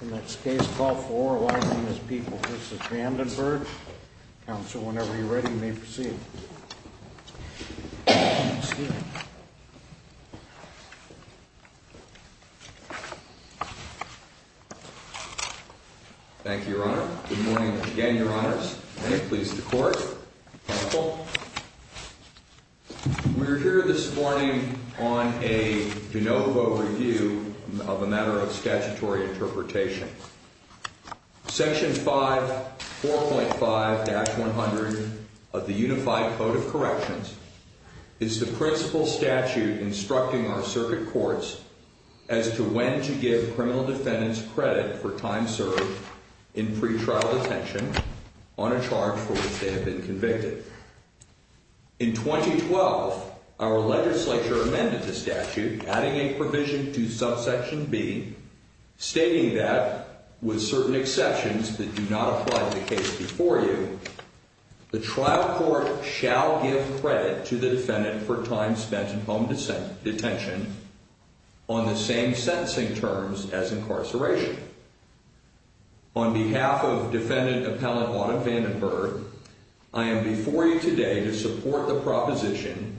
In this case, call for oral argument as people. This is Vandenberg. Counsel, whenever you're ready, may proceed. Thank you, Your Honor. Good morning again, Your Honors. May it please the Court. Counsel. We're here this morning on a de novo review of a matter of statutory interpretation. Section 5, 4.5-100 of the Unified Code of Corrections is the principal statute instructing our circuit courts as to when to give criminal defendants credit for time served in pretrial detention on a charge for which they have been convicted. In 2012, our legislature amended the statute, adding a provision to subsection B stating that, with certain exceptions that do not apply to the case before you, the trial court shall give credit to the defendant for time spent in home detention on the same sentencing terms as incarceration. On behalf of Defendant Appellant Autumn Vandenberg, I am before you today to support the proposition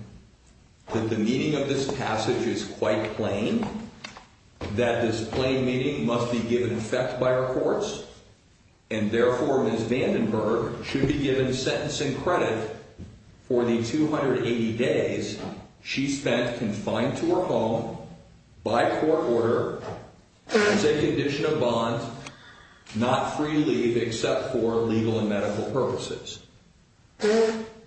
that the meaning of this passage is quite plain, that this plain meaning must be given effect by our courts, and therefore Ms. Vandenberg should be given sentencing credit for the 280 days she spent confined to her home by court order as a condition of bond, not free leave except for legal and medical purposes.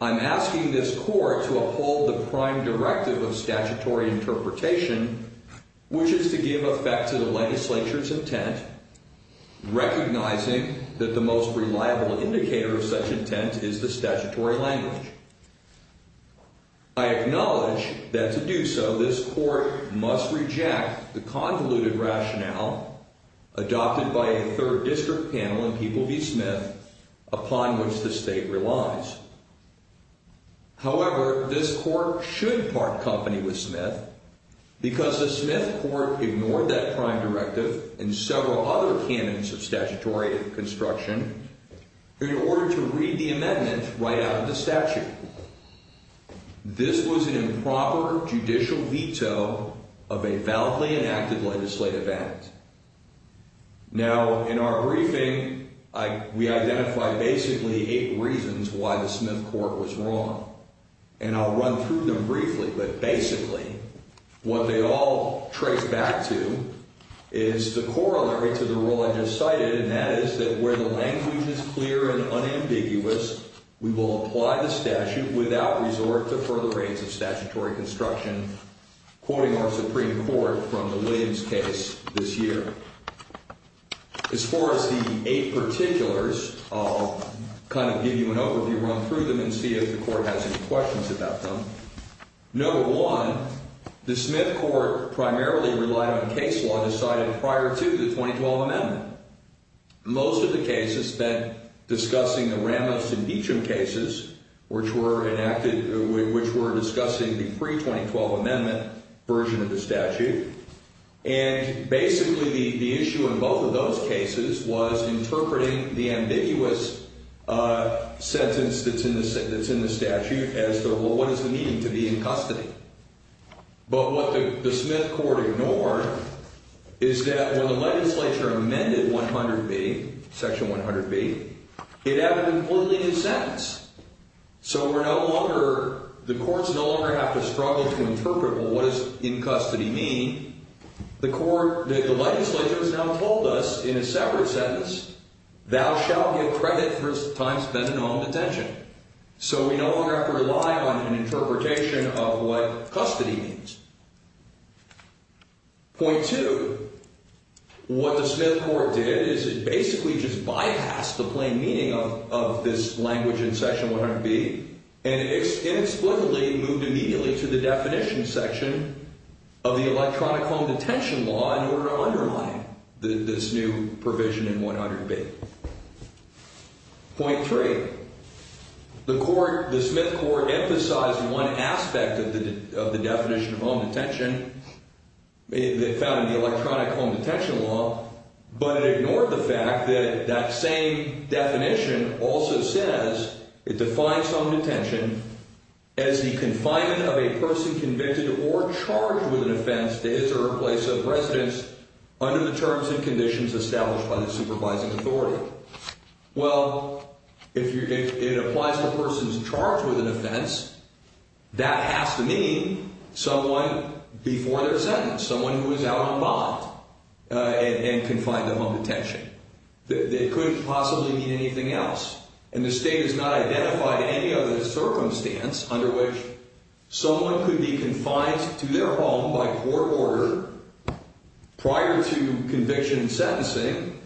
I'm asking this court to uphold the prime directive of statutory interpretation, which is to give effect to the legislature's intent, recognizing that the most reliable indicator of such intent is the statutory language. I acknowledge that to do so, this court must reject the convoluted rationale adopted by a third district panel in People v. Smith upon which the state relies. However, this court should park company with Smith because the Smith court ignored that prime directive and several other canons of statutory construction in order to read the amendment right out of the statute. This was an improper judicial veto of a validly enacted legislative act. Now, in our briefing, we identified basically eight reasons why the Smith court was wrong, and I'll run through them briefly, but basically what they all trace back to is the corollary to the rule I just cited, and that is that where the language is clear and unambiguous, we will apply the statute without resort to further raids of statutory construction, quoting our Supreme Court from the Williams case this year. As far as the eight particulars, I'll kind of give you an overview, run through them, and see if the court has any questions about them. Number one, the Smith court primarily relied on case law decided prior to the 2012 amendment. Most of the cases spent discussing the Ramos and Deacham cases, which were discussing the pre-2012 amendment version of the statute, and basically the issue in both of those cases was interpreting the ambiguous sentence that's in the statute as, well, what does it mean to be in custody? But what the Smith court ignored is that when the legislature amended 100B, Section 100B, it had a completely new sentence. So we're no longer, the courts no longer have to struggle to interpret, well, what does in custody mean? The court, the legislature has now told us in a separate sentence, thou shalt give credit for thy time spent in home detention. So we no longer have to rely on an interpretation of what custody means. Point two, what the Smith court did is it basically just bypassed the plain meaning of this language in Section 100B, and it inexplicably moved immediately to the definition section of the electronic home detention law in order to undermine this new provision in 100B. Point three, the court, the Smith court emphasized one aspect of the definition of home detention. It found in the electronic home detention law, but it ignored the fact that that same definition also says, it defines home detention as the confinement of a person convicted or charged with an offense to his or her place of residence under the terms and conditions established by the supervising authority. Well, if it applies to a person's charge with an offense, that has to mean someone before their sentence, someone who is out on bond and confined to home detention. It couldn't possibly mean anything else. And the state has not identified any other circumstance under which someone could be confined to their home by court order prior to conviction and sentencing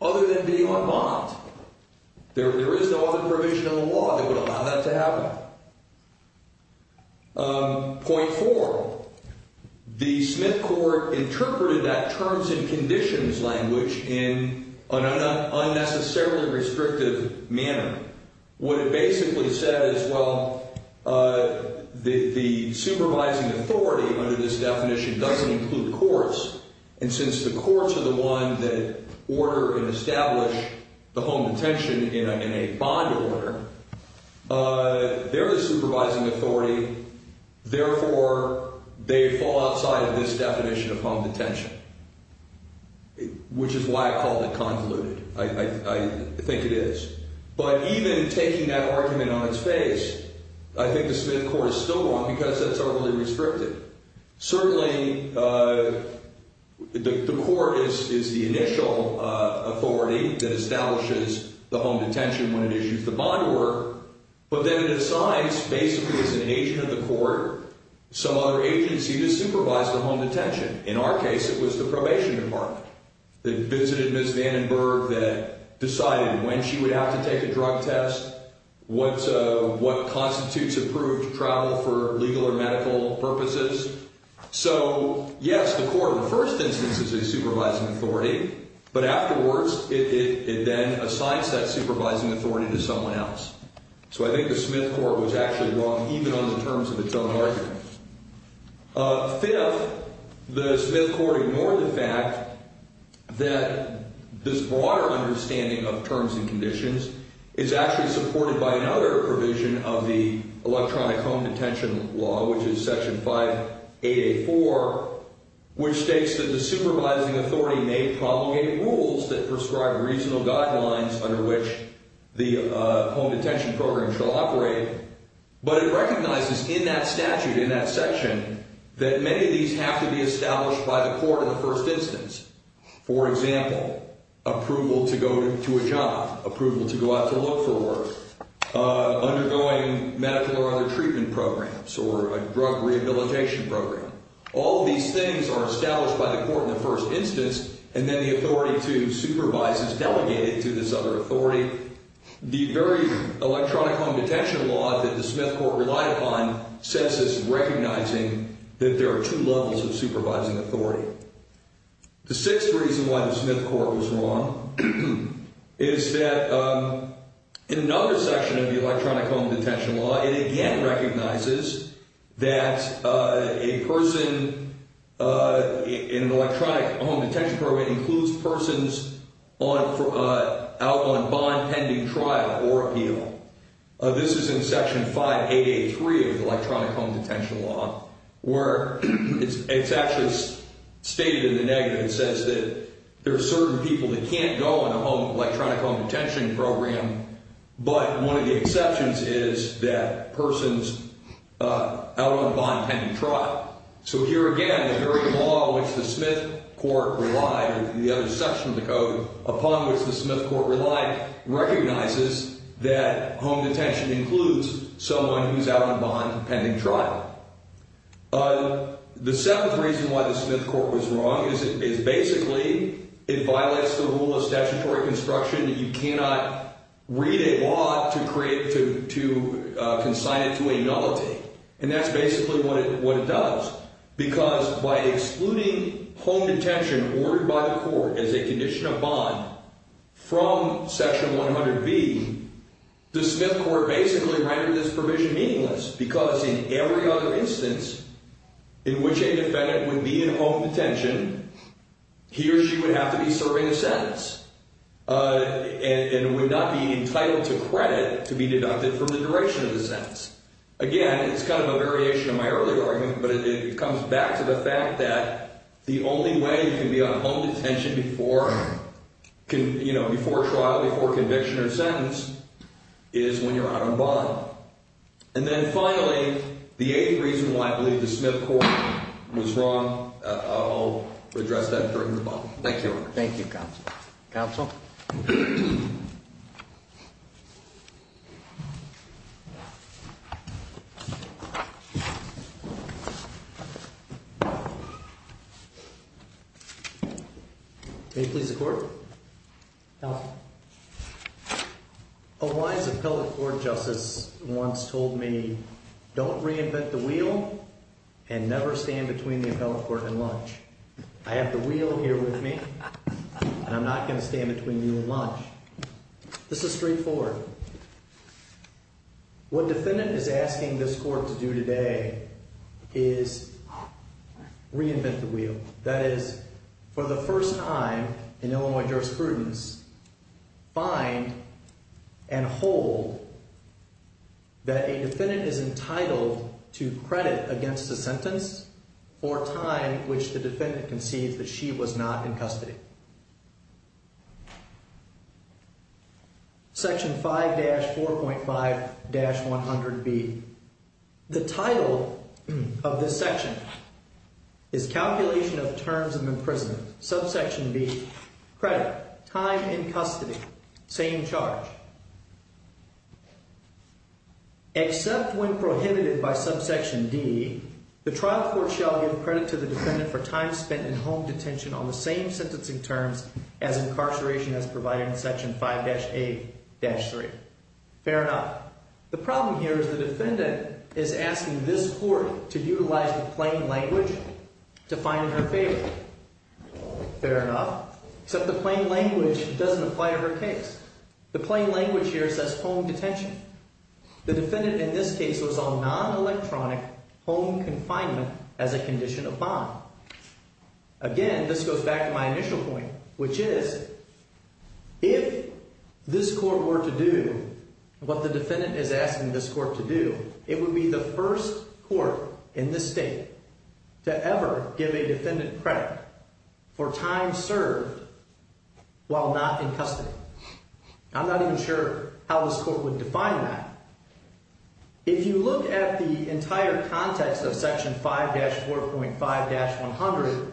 other than being on bond. There is no other provision in the law that would allow that to happen. Point four, the Smith court interpreted that terms and conditions language in an unnecessarily restrictive manner. What it basically says, well, the supervising authority under this definition doesn't include courts. And since the courts are the one that order and establish the home detention in a bond order, they're the supervising authority. Therefore, they fall outside of this definition of home detention, which is why I called it convoluted. I think it is. Even taking that argument on its face, I think the Smith court is still wrong because that's overly restrictive. Certainly, the court is the initial authority that establishes the home detention when it issues the bond order. But then it assigns, basically as an agent of the court, some other agency to supervise the home detention. In our case, it was the probation department. They visited Ms. Vandenberg that decided when she would have to take a drug test, what constitutes approved travel for legal or medical purposes. So, yes, the court in the first instance is a supervising authority. But afterwards, it then assigns that supervising authority to someone else. So I think the Smith court was actually wrong, even on the terms of its own argument. Fifth, the Smith court ignored the fact that this broader understanding of terms and conditions is actually supported by another provision of the electronic home detention law, which is Section 5884, which states that the supervising authority may promulgate rules that prescribe reasonable guidelines under which the home detention program shall operate. But it recognizes in that statute, in that section, that many of these have to be established by the court in the first instance. For example, approval to go to a job, approval to go out to look for work, undergoing medical or other treatment programs, or a drug rehabilitation program. All of these things are established by the court in the first instance, and then the authority to supervise is delegated to this other authority. The very electronic home detention law that the Smith court relied upon sets this recognizing that there are two levels of supervising authority. The sixth reason why the Smith court was wrong is that in another section of the electronic home detention law, it again recognizes that a person in an electronic home detention program includes persons out on bond pending trial or appeal. This is in Section 5883 of the electronic home detention law, where it's actually stated in the negative. It says that there are certain people that can't go in an electronic home detention program, but one of the exceptions is that persons out on bond pending trial. So here again, the very law which the Smith court relied, or the other section of the code upon which the Smith court relied, recognizes that home detention includes someone who's out on bond pending trial. The seventh reason why the Smith court was wrong is basically it violates the rule of statutory construction that you cannot read a law to create, to consign it to a nullity. And that's basically what it does. Because by excluding home detention ordered by the court as a condition of bond from Section 100B, the Smith court basically rendered this provision meaningless because in every other instance in which a defendant would be in home detention, he or she would have to be serving a sentence and would not be entitled to credit to be deducted from the duration of the sentence. Again, it's kind of a variation of my earlier argument, but it comes back to the fact that the only way you can be on home detention before trial, before conviction or sentence, is when you're out on bond. And then finally, the eighth reason why I believe the Smith court was wrong, I'll address that during the bond. Thank you. Thank you, counsel. Counsel? Thank you. May it please the court? Counsel? A wise appellate court justice once told me, don't reinvent the wheel and never stand between the appellate court and lunch. I have the wheel here with me and I'm not going to stand between you and lunch. This is straightforward. What defendant is asking this court to do today is reinvent the wheel. That is, for the first time in Illinois jurisprudence, find and hold that a defendant is entitled to credit against a sentence for a time which the defendant concedes that she was not in custody. Section 5-4.5-100B. The title of this section is Calculation of Terms of Imprisonment. Subsection B. Credit. Time in custody. Same charge. Except when prohibited by subsection D, the trial court shall give credit to the defendant for time spent in home detention on the same sentencing terms as incarceration as provided in section 5-8-3. Fair enough. The problem here is the defendant is asking this court to utilize the plain language to find in her favor. Fair enough. Except the plain language doesn't apply to her case. The plain language here says home detention. The defendant in this case was on non-electronic home confinement as a condition of bond. Again, this goes back to my initial point, which is, if this court were to do what the defendant is asking this court to do, it would be the first court in this state to ever give a defendant credit for time served while not in custody. I'm not even sure how this court would define that. If you look at the entire context of section 5-4.5-100,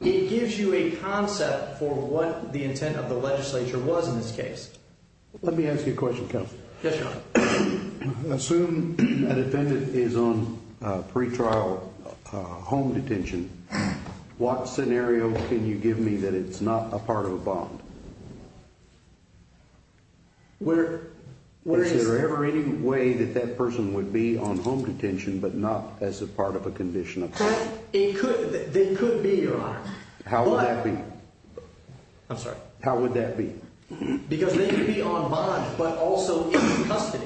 it gives you a concept for what the intent of the legislature was in this case. Let me ask you a question, counsel. Yes, Your Honor. Assume a defendant is on pretrial home detention. What scenario can you give me that it's not a part of a bond? Is there ever any way that that person would be on home detention, but not as a part of a condition of bond? They could be, Your Honor. How would that be? I'm sorry. How would that be? Because they could be on bond, but also in custody.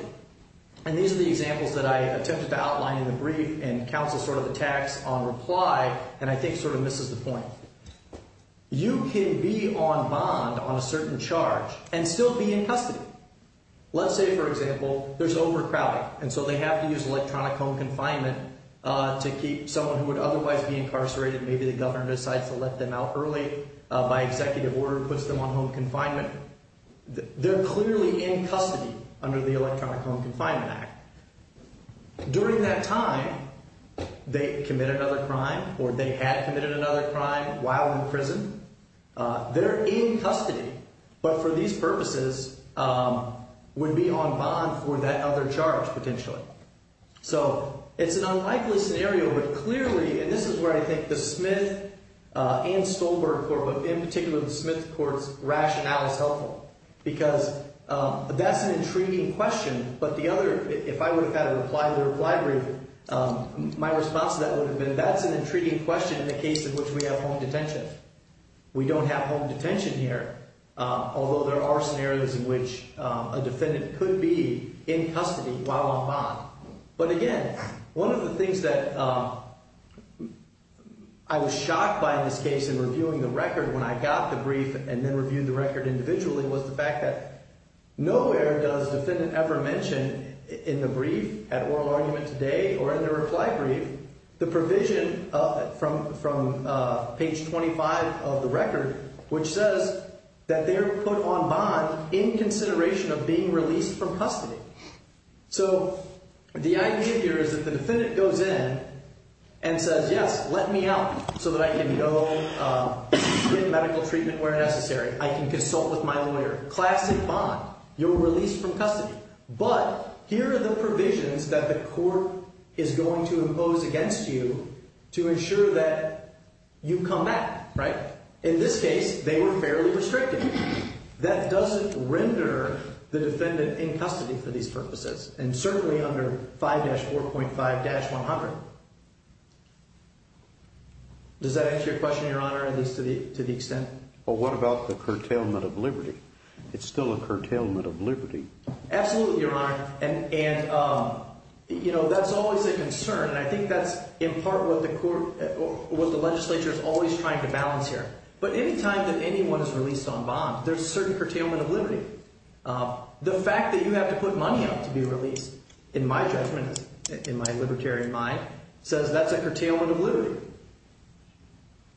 And these are the examples that I attempted to outline in the brief, and counsel sort of attacks on reply, and I think sort of misses the point. You can be on bond on a certain charge and still be in custody. Let's say, for example, there's overcrowding, and so they have to use electronic home confinement to keep someone who would otherwise be incarcerated, maybe the governor decides to let them out early by executive order, puts them on home confinement. They're clearly in custody under the Electronic Home Confinement Act. During that time, they commit another crime, or they had committed another crime while in prison. They're in custody, but for these purposes, would be on bond for that other charge, potentially. So it's an unlikely scenario, but clearly, and this is where I think the Smith and Stolberg Court, but in particular the Smith Court's rationale is helpful, because that's an intriguing question, but the other, if I would have had a reply to the reply brief, my response to that would have been, that's an intriguing question in the case in which we have home detention. We don't have home detention here, although there are scenarios in which a defendant could be in custody while on bond. But again, one of the things that I was shocked by in this case in reviewing the record when I got the brief and then reviewed the record individually was the fact that nowhere does defendant ever mention in the brief at oral argument today or in the reply brief the provision from page 25 of the record, which says that they're put on bond in consideration of being released from custody. So the idea here is that the defendant goes in and says, yes, let me out so that I can go get medical treatment where necessary. I can consult with my lawyer. Classic bond, you're released from custody. But here are the provisions that the court is going to impose against you to ensure that you come back, right? In this case, they were fairly restricted. That doesn't render the defendant in custody for these purposes, and certainly under 5-4.5-100. Does that answer your question, Your Honor, at least to the extent? Well, what about the curtailment of liberty? It's still a curtailment of liberty. Absolutely, Your Honor. And, you know, that's always a concern. And I think that's in part what the court, what the legislature is always trying to balance here. But any time that anyone is released on bond, there's a certain curtailment of liberty. The fact that you have to put money up to be released, in my judgment, in my libertarian mind, says that's a curtailment of liberty.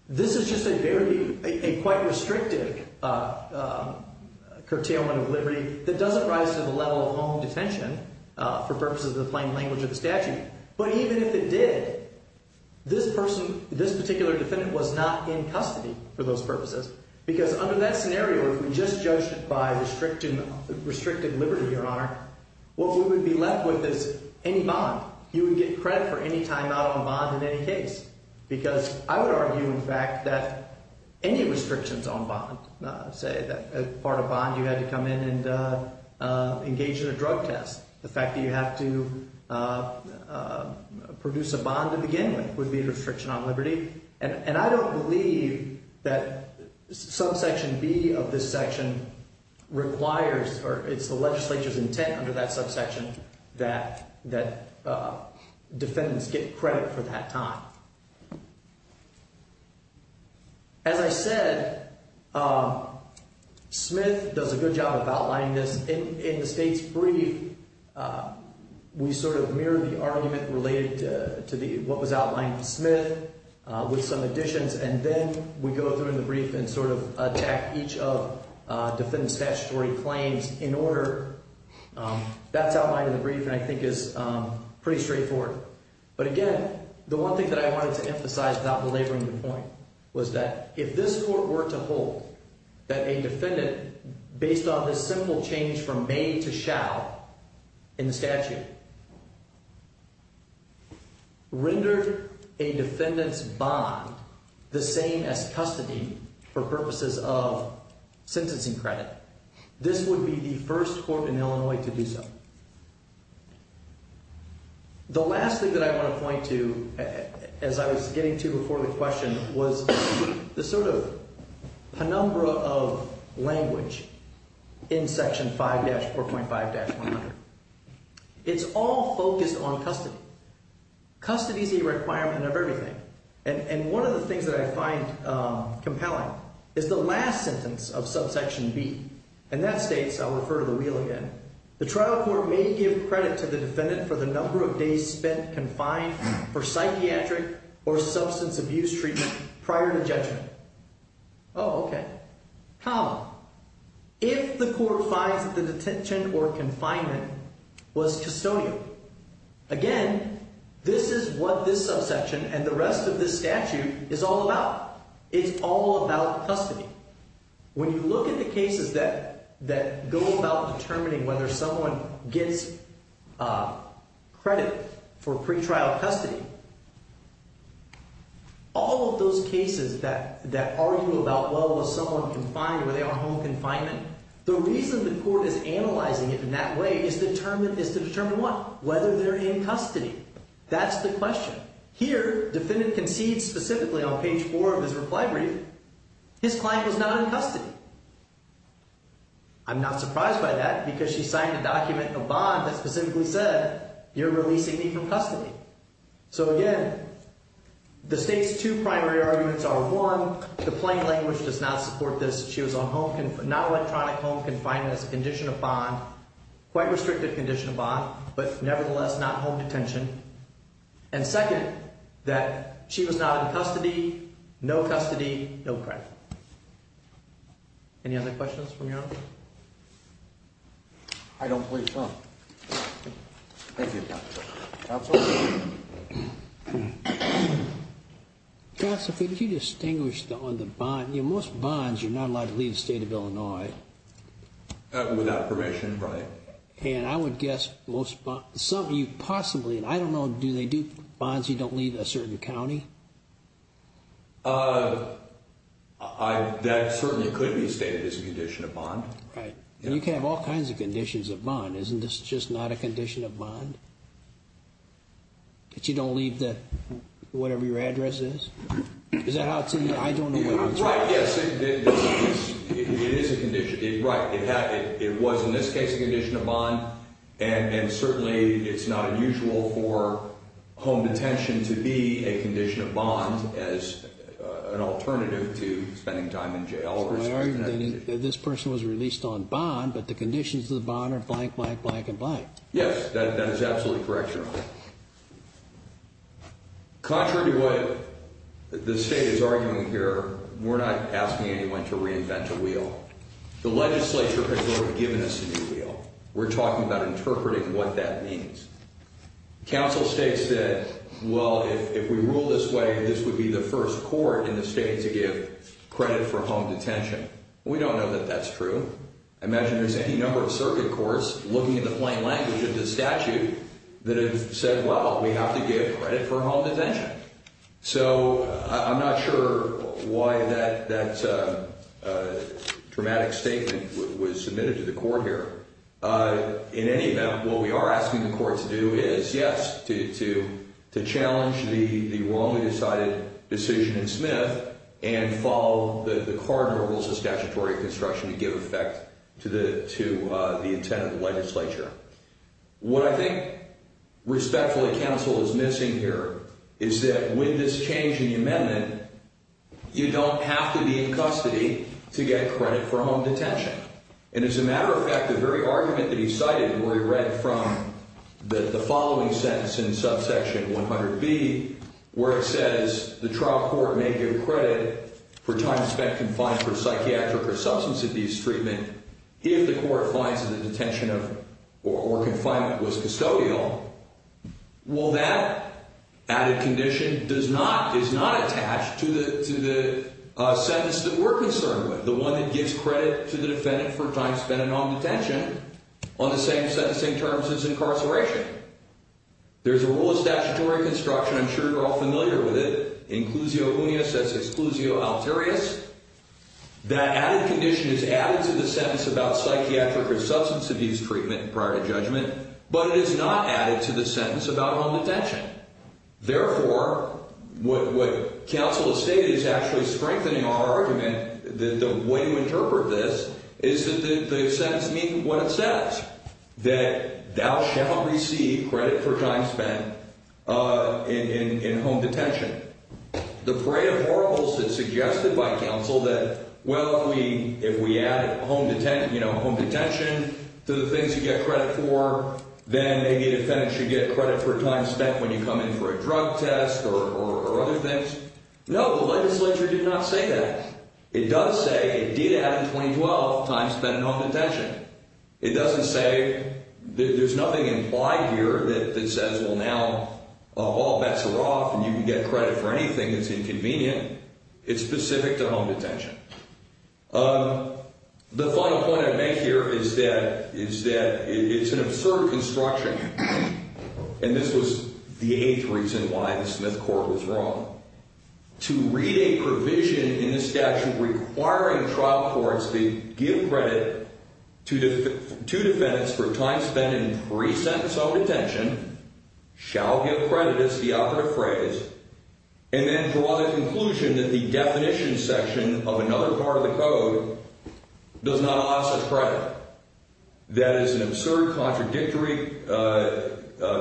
This is just a very, a quite restrictive curtailment of liberty that doesn't rise to the level of home detention for purposes of the plain language of the statute. But even if it did, this person, this particular defendant was not in custody for those purposes. Because under that scenario, if we just judged it by restricting liberty, Your Honor, what we would be left with is any bond. You would get credit for any time out on bond in any case. Because I would argue, in fact, that any restrictions on bond, say that part of bond you had to come in and engage in a drug test. The fact that you have to produce a bond to begin with would be a restriction on liberty. And I don't believe that subsection B of this section requires, or it's the legislature's intent under that subsection that defendants get credit for that time. As I said, Smith does a good job of outlining this. In the state's brief, we sort of mirror the argument related to what was outlined in Smith with some additions. And then we go through in the brief and sort of attack each of defendant's statutory claims in order. That's outlined in the brief and I think is pretty straightforward. But again, the one thing that I wanted to emphasize without belaboring the point was that if this court were to hold that a defendant, based on this simple change from may to shall in the statute, rendered a defendant's bond the same as custody for purposes of sentencing credit, this would be the first court in Illinois to do so. The last thing that I want to point to, as I was getting to before the question, was the sort of penumbra of language in section 4.5-100. It's all focused on custody. Custody's a requirement of everything. And one of the things that I find compelling is the last sentence of subsection B. And that states, I'll refer to the wheel again, the trial court may give credit to the defendant for the number of days spent confined for psychiatric or substance abuse treatment prior to judgment. Oh, okay. How? If the court finds that the detention or confinement was custodial. Again, this is what this subsection and the rest of this statute is all about. It's all about custody. When you look at the cases that go about determining whether someone gets credit for pretrial custody, all of those cases that argue about, well, was someone confined or were they on home confinement, the reason the court is analyzing it in that way is to determine what? Whether they're in custody. That's the question. Here, defendant concedes specifically on page four of his reply brief, his client was not in custody. I'm not surprised by that because she signed a document, a bond, that specifically said, you're releasing me from custody. Again, the state's two primary arguments are, one, the plain language does not support this. She was on home, not electronic home confinement as a condition of bond, quite restricted condition of bond, but nevertheless, not home detention. Second, that she was not in custody, no custody, no credit. Any other questions from your honor? I don't believe so. Thank you, counsel. Counsel? Counsel, could you distinguish on the bond? Most bonds, you're not allowed to leave the state of Illinois. Without permission, right. And I would guess, some of you possibly, and I don't know, do they do bonds you don't leave a certain county? That certainly could be stated as a condition of bond. Right. You can have all kinds of conditions of bond. But you don't leave the, whatever your address is? Is that how it's in your, I don't know. Right, yes. It is a condition, right. It was, in this case, a condition of bond. And certainly, it's not unusual for home detention to be a condition of bond as an alternative to spending time in jail. This person was released on bond, but the conditions of the bond are blank, blank, blank, and blank. Right. Contrary to what the state is arguing here, we're not asking anyone to reinvent a wheel. The legislature has already given us a new wheel. We're talking about interpreting what that means. Counsel states that, well, if we rule this way, this would be the first court in the state to give credit for home detention. We don't know that that's true. I imagine there's any number of circuit courts looking at the plain language of this statute that have said, well, we have to give credit for home detention. So, I'm not sure why that dramatic statement was submitted to the court here. In any event, what we are asking the court to do is, yes, to challenge the wrongly decided decision in Smith and follow the cardinal rules of statutory construction to give effect to the intent of the legislature. What I think, respectfully, counsel is missing here is that with this change in the amendment, you don't have to be in custody to get credit for home detention. And as a matter of fact, the very argument that he cited where he read from the following sentence in subsection 100B where it says the trial court may give credit for time spent confined for psychiatric or substance abuse treatment if the court finds that the detention or confinement was custodial, well, that added condition is not attached to the sentence that we're concerned with, the one that gives credit to the defendant for time spent in home detention on the same terms as incarceration. There's a rule of statutory construction. I'm sure you're all familiar with it. Inclusio unius, that's exclusio alterius. That added condition is added to the sentence about psychiatric or substance abuse treatment prior to judgment, but it is not added to the sentence about home detention. Therefore, what counsel has stated is actually strengthening our argument that the way to interpret this is that the sentence means what it says, that thou shalt receive credit for time spent in home detention. The parade of horribles is suggested by counsel that, well, if we add home detention to the things you get credit for, then maybe a defendant should get credit for time spent when you come in for a drug test or other things. No, the legislature did not say that. It does say it did add in 2012 time spent in home detention. It doesn't say there's nothing implied here that says, well, now all bets are off and you can get credit for anything that's inconvenient. It's specific to home detention. The final point I'd make here is that it's an absurd construction, and this was the eighth reason why the Smith Court was wrong. To read a provision in the statute requiring trial courts to give credit to defendants for time spent in pre-sentence home detention shall give credit as the operative phrase and then draw the conclusion that the definition section of another part of the code does not allow such credit. That is an absurd, contradictory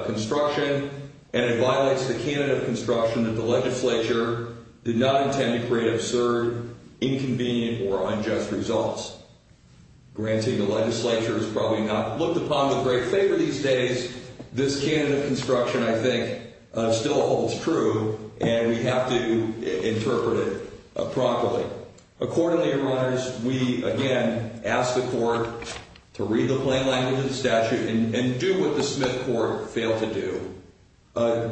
construction, and it violates the canon of construction that the legislature did not intend to create absurd, inconvenient, or unjust results. Granting the legislature has probably not looked upon with great favor these days, this canon of construction, I think, still holds true, and we have to interpret it properly. Accordingly, your honors, we again ask the court to read the plain language of the statute and do what the Smith Court failed to do.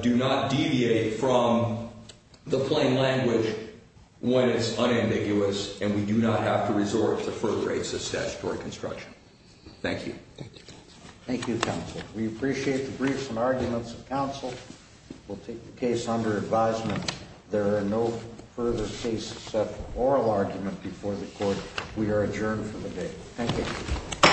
Do not deviate from the plain language when it's unambiguous, and we do not have to resort to further racist statutory construction. Thank you. Thank you, counsel. We appreciate the briefs and arguments of counsel. We'll take the case under advisement. There are no further cases to set an oral argument before the court. We are adjourned for the day. Thank you.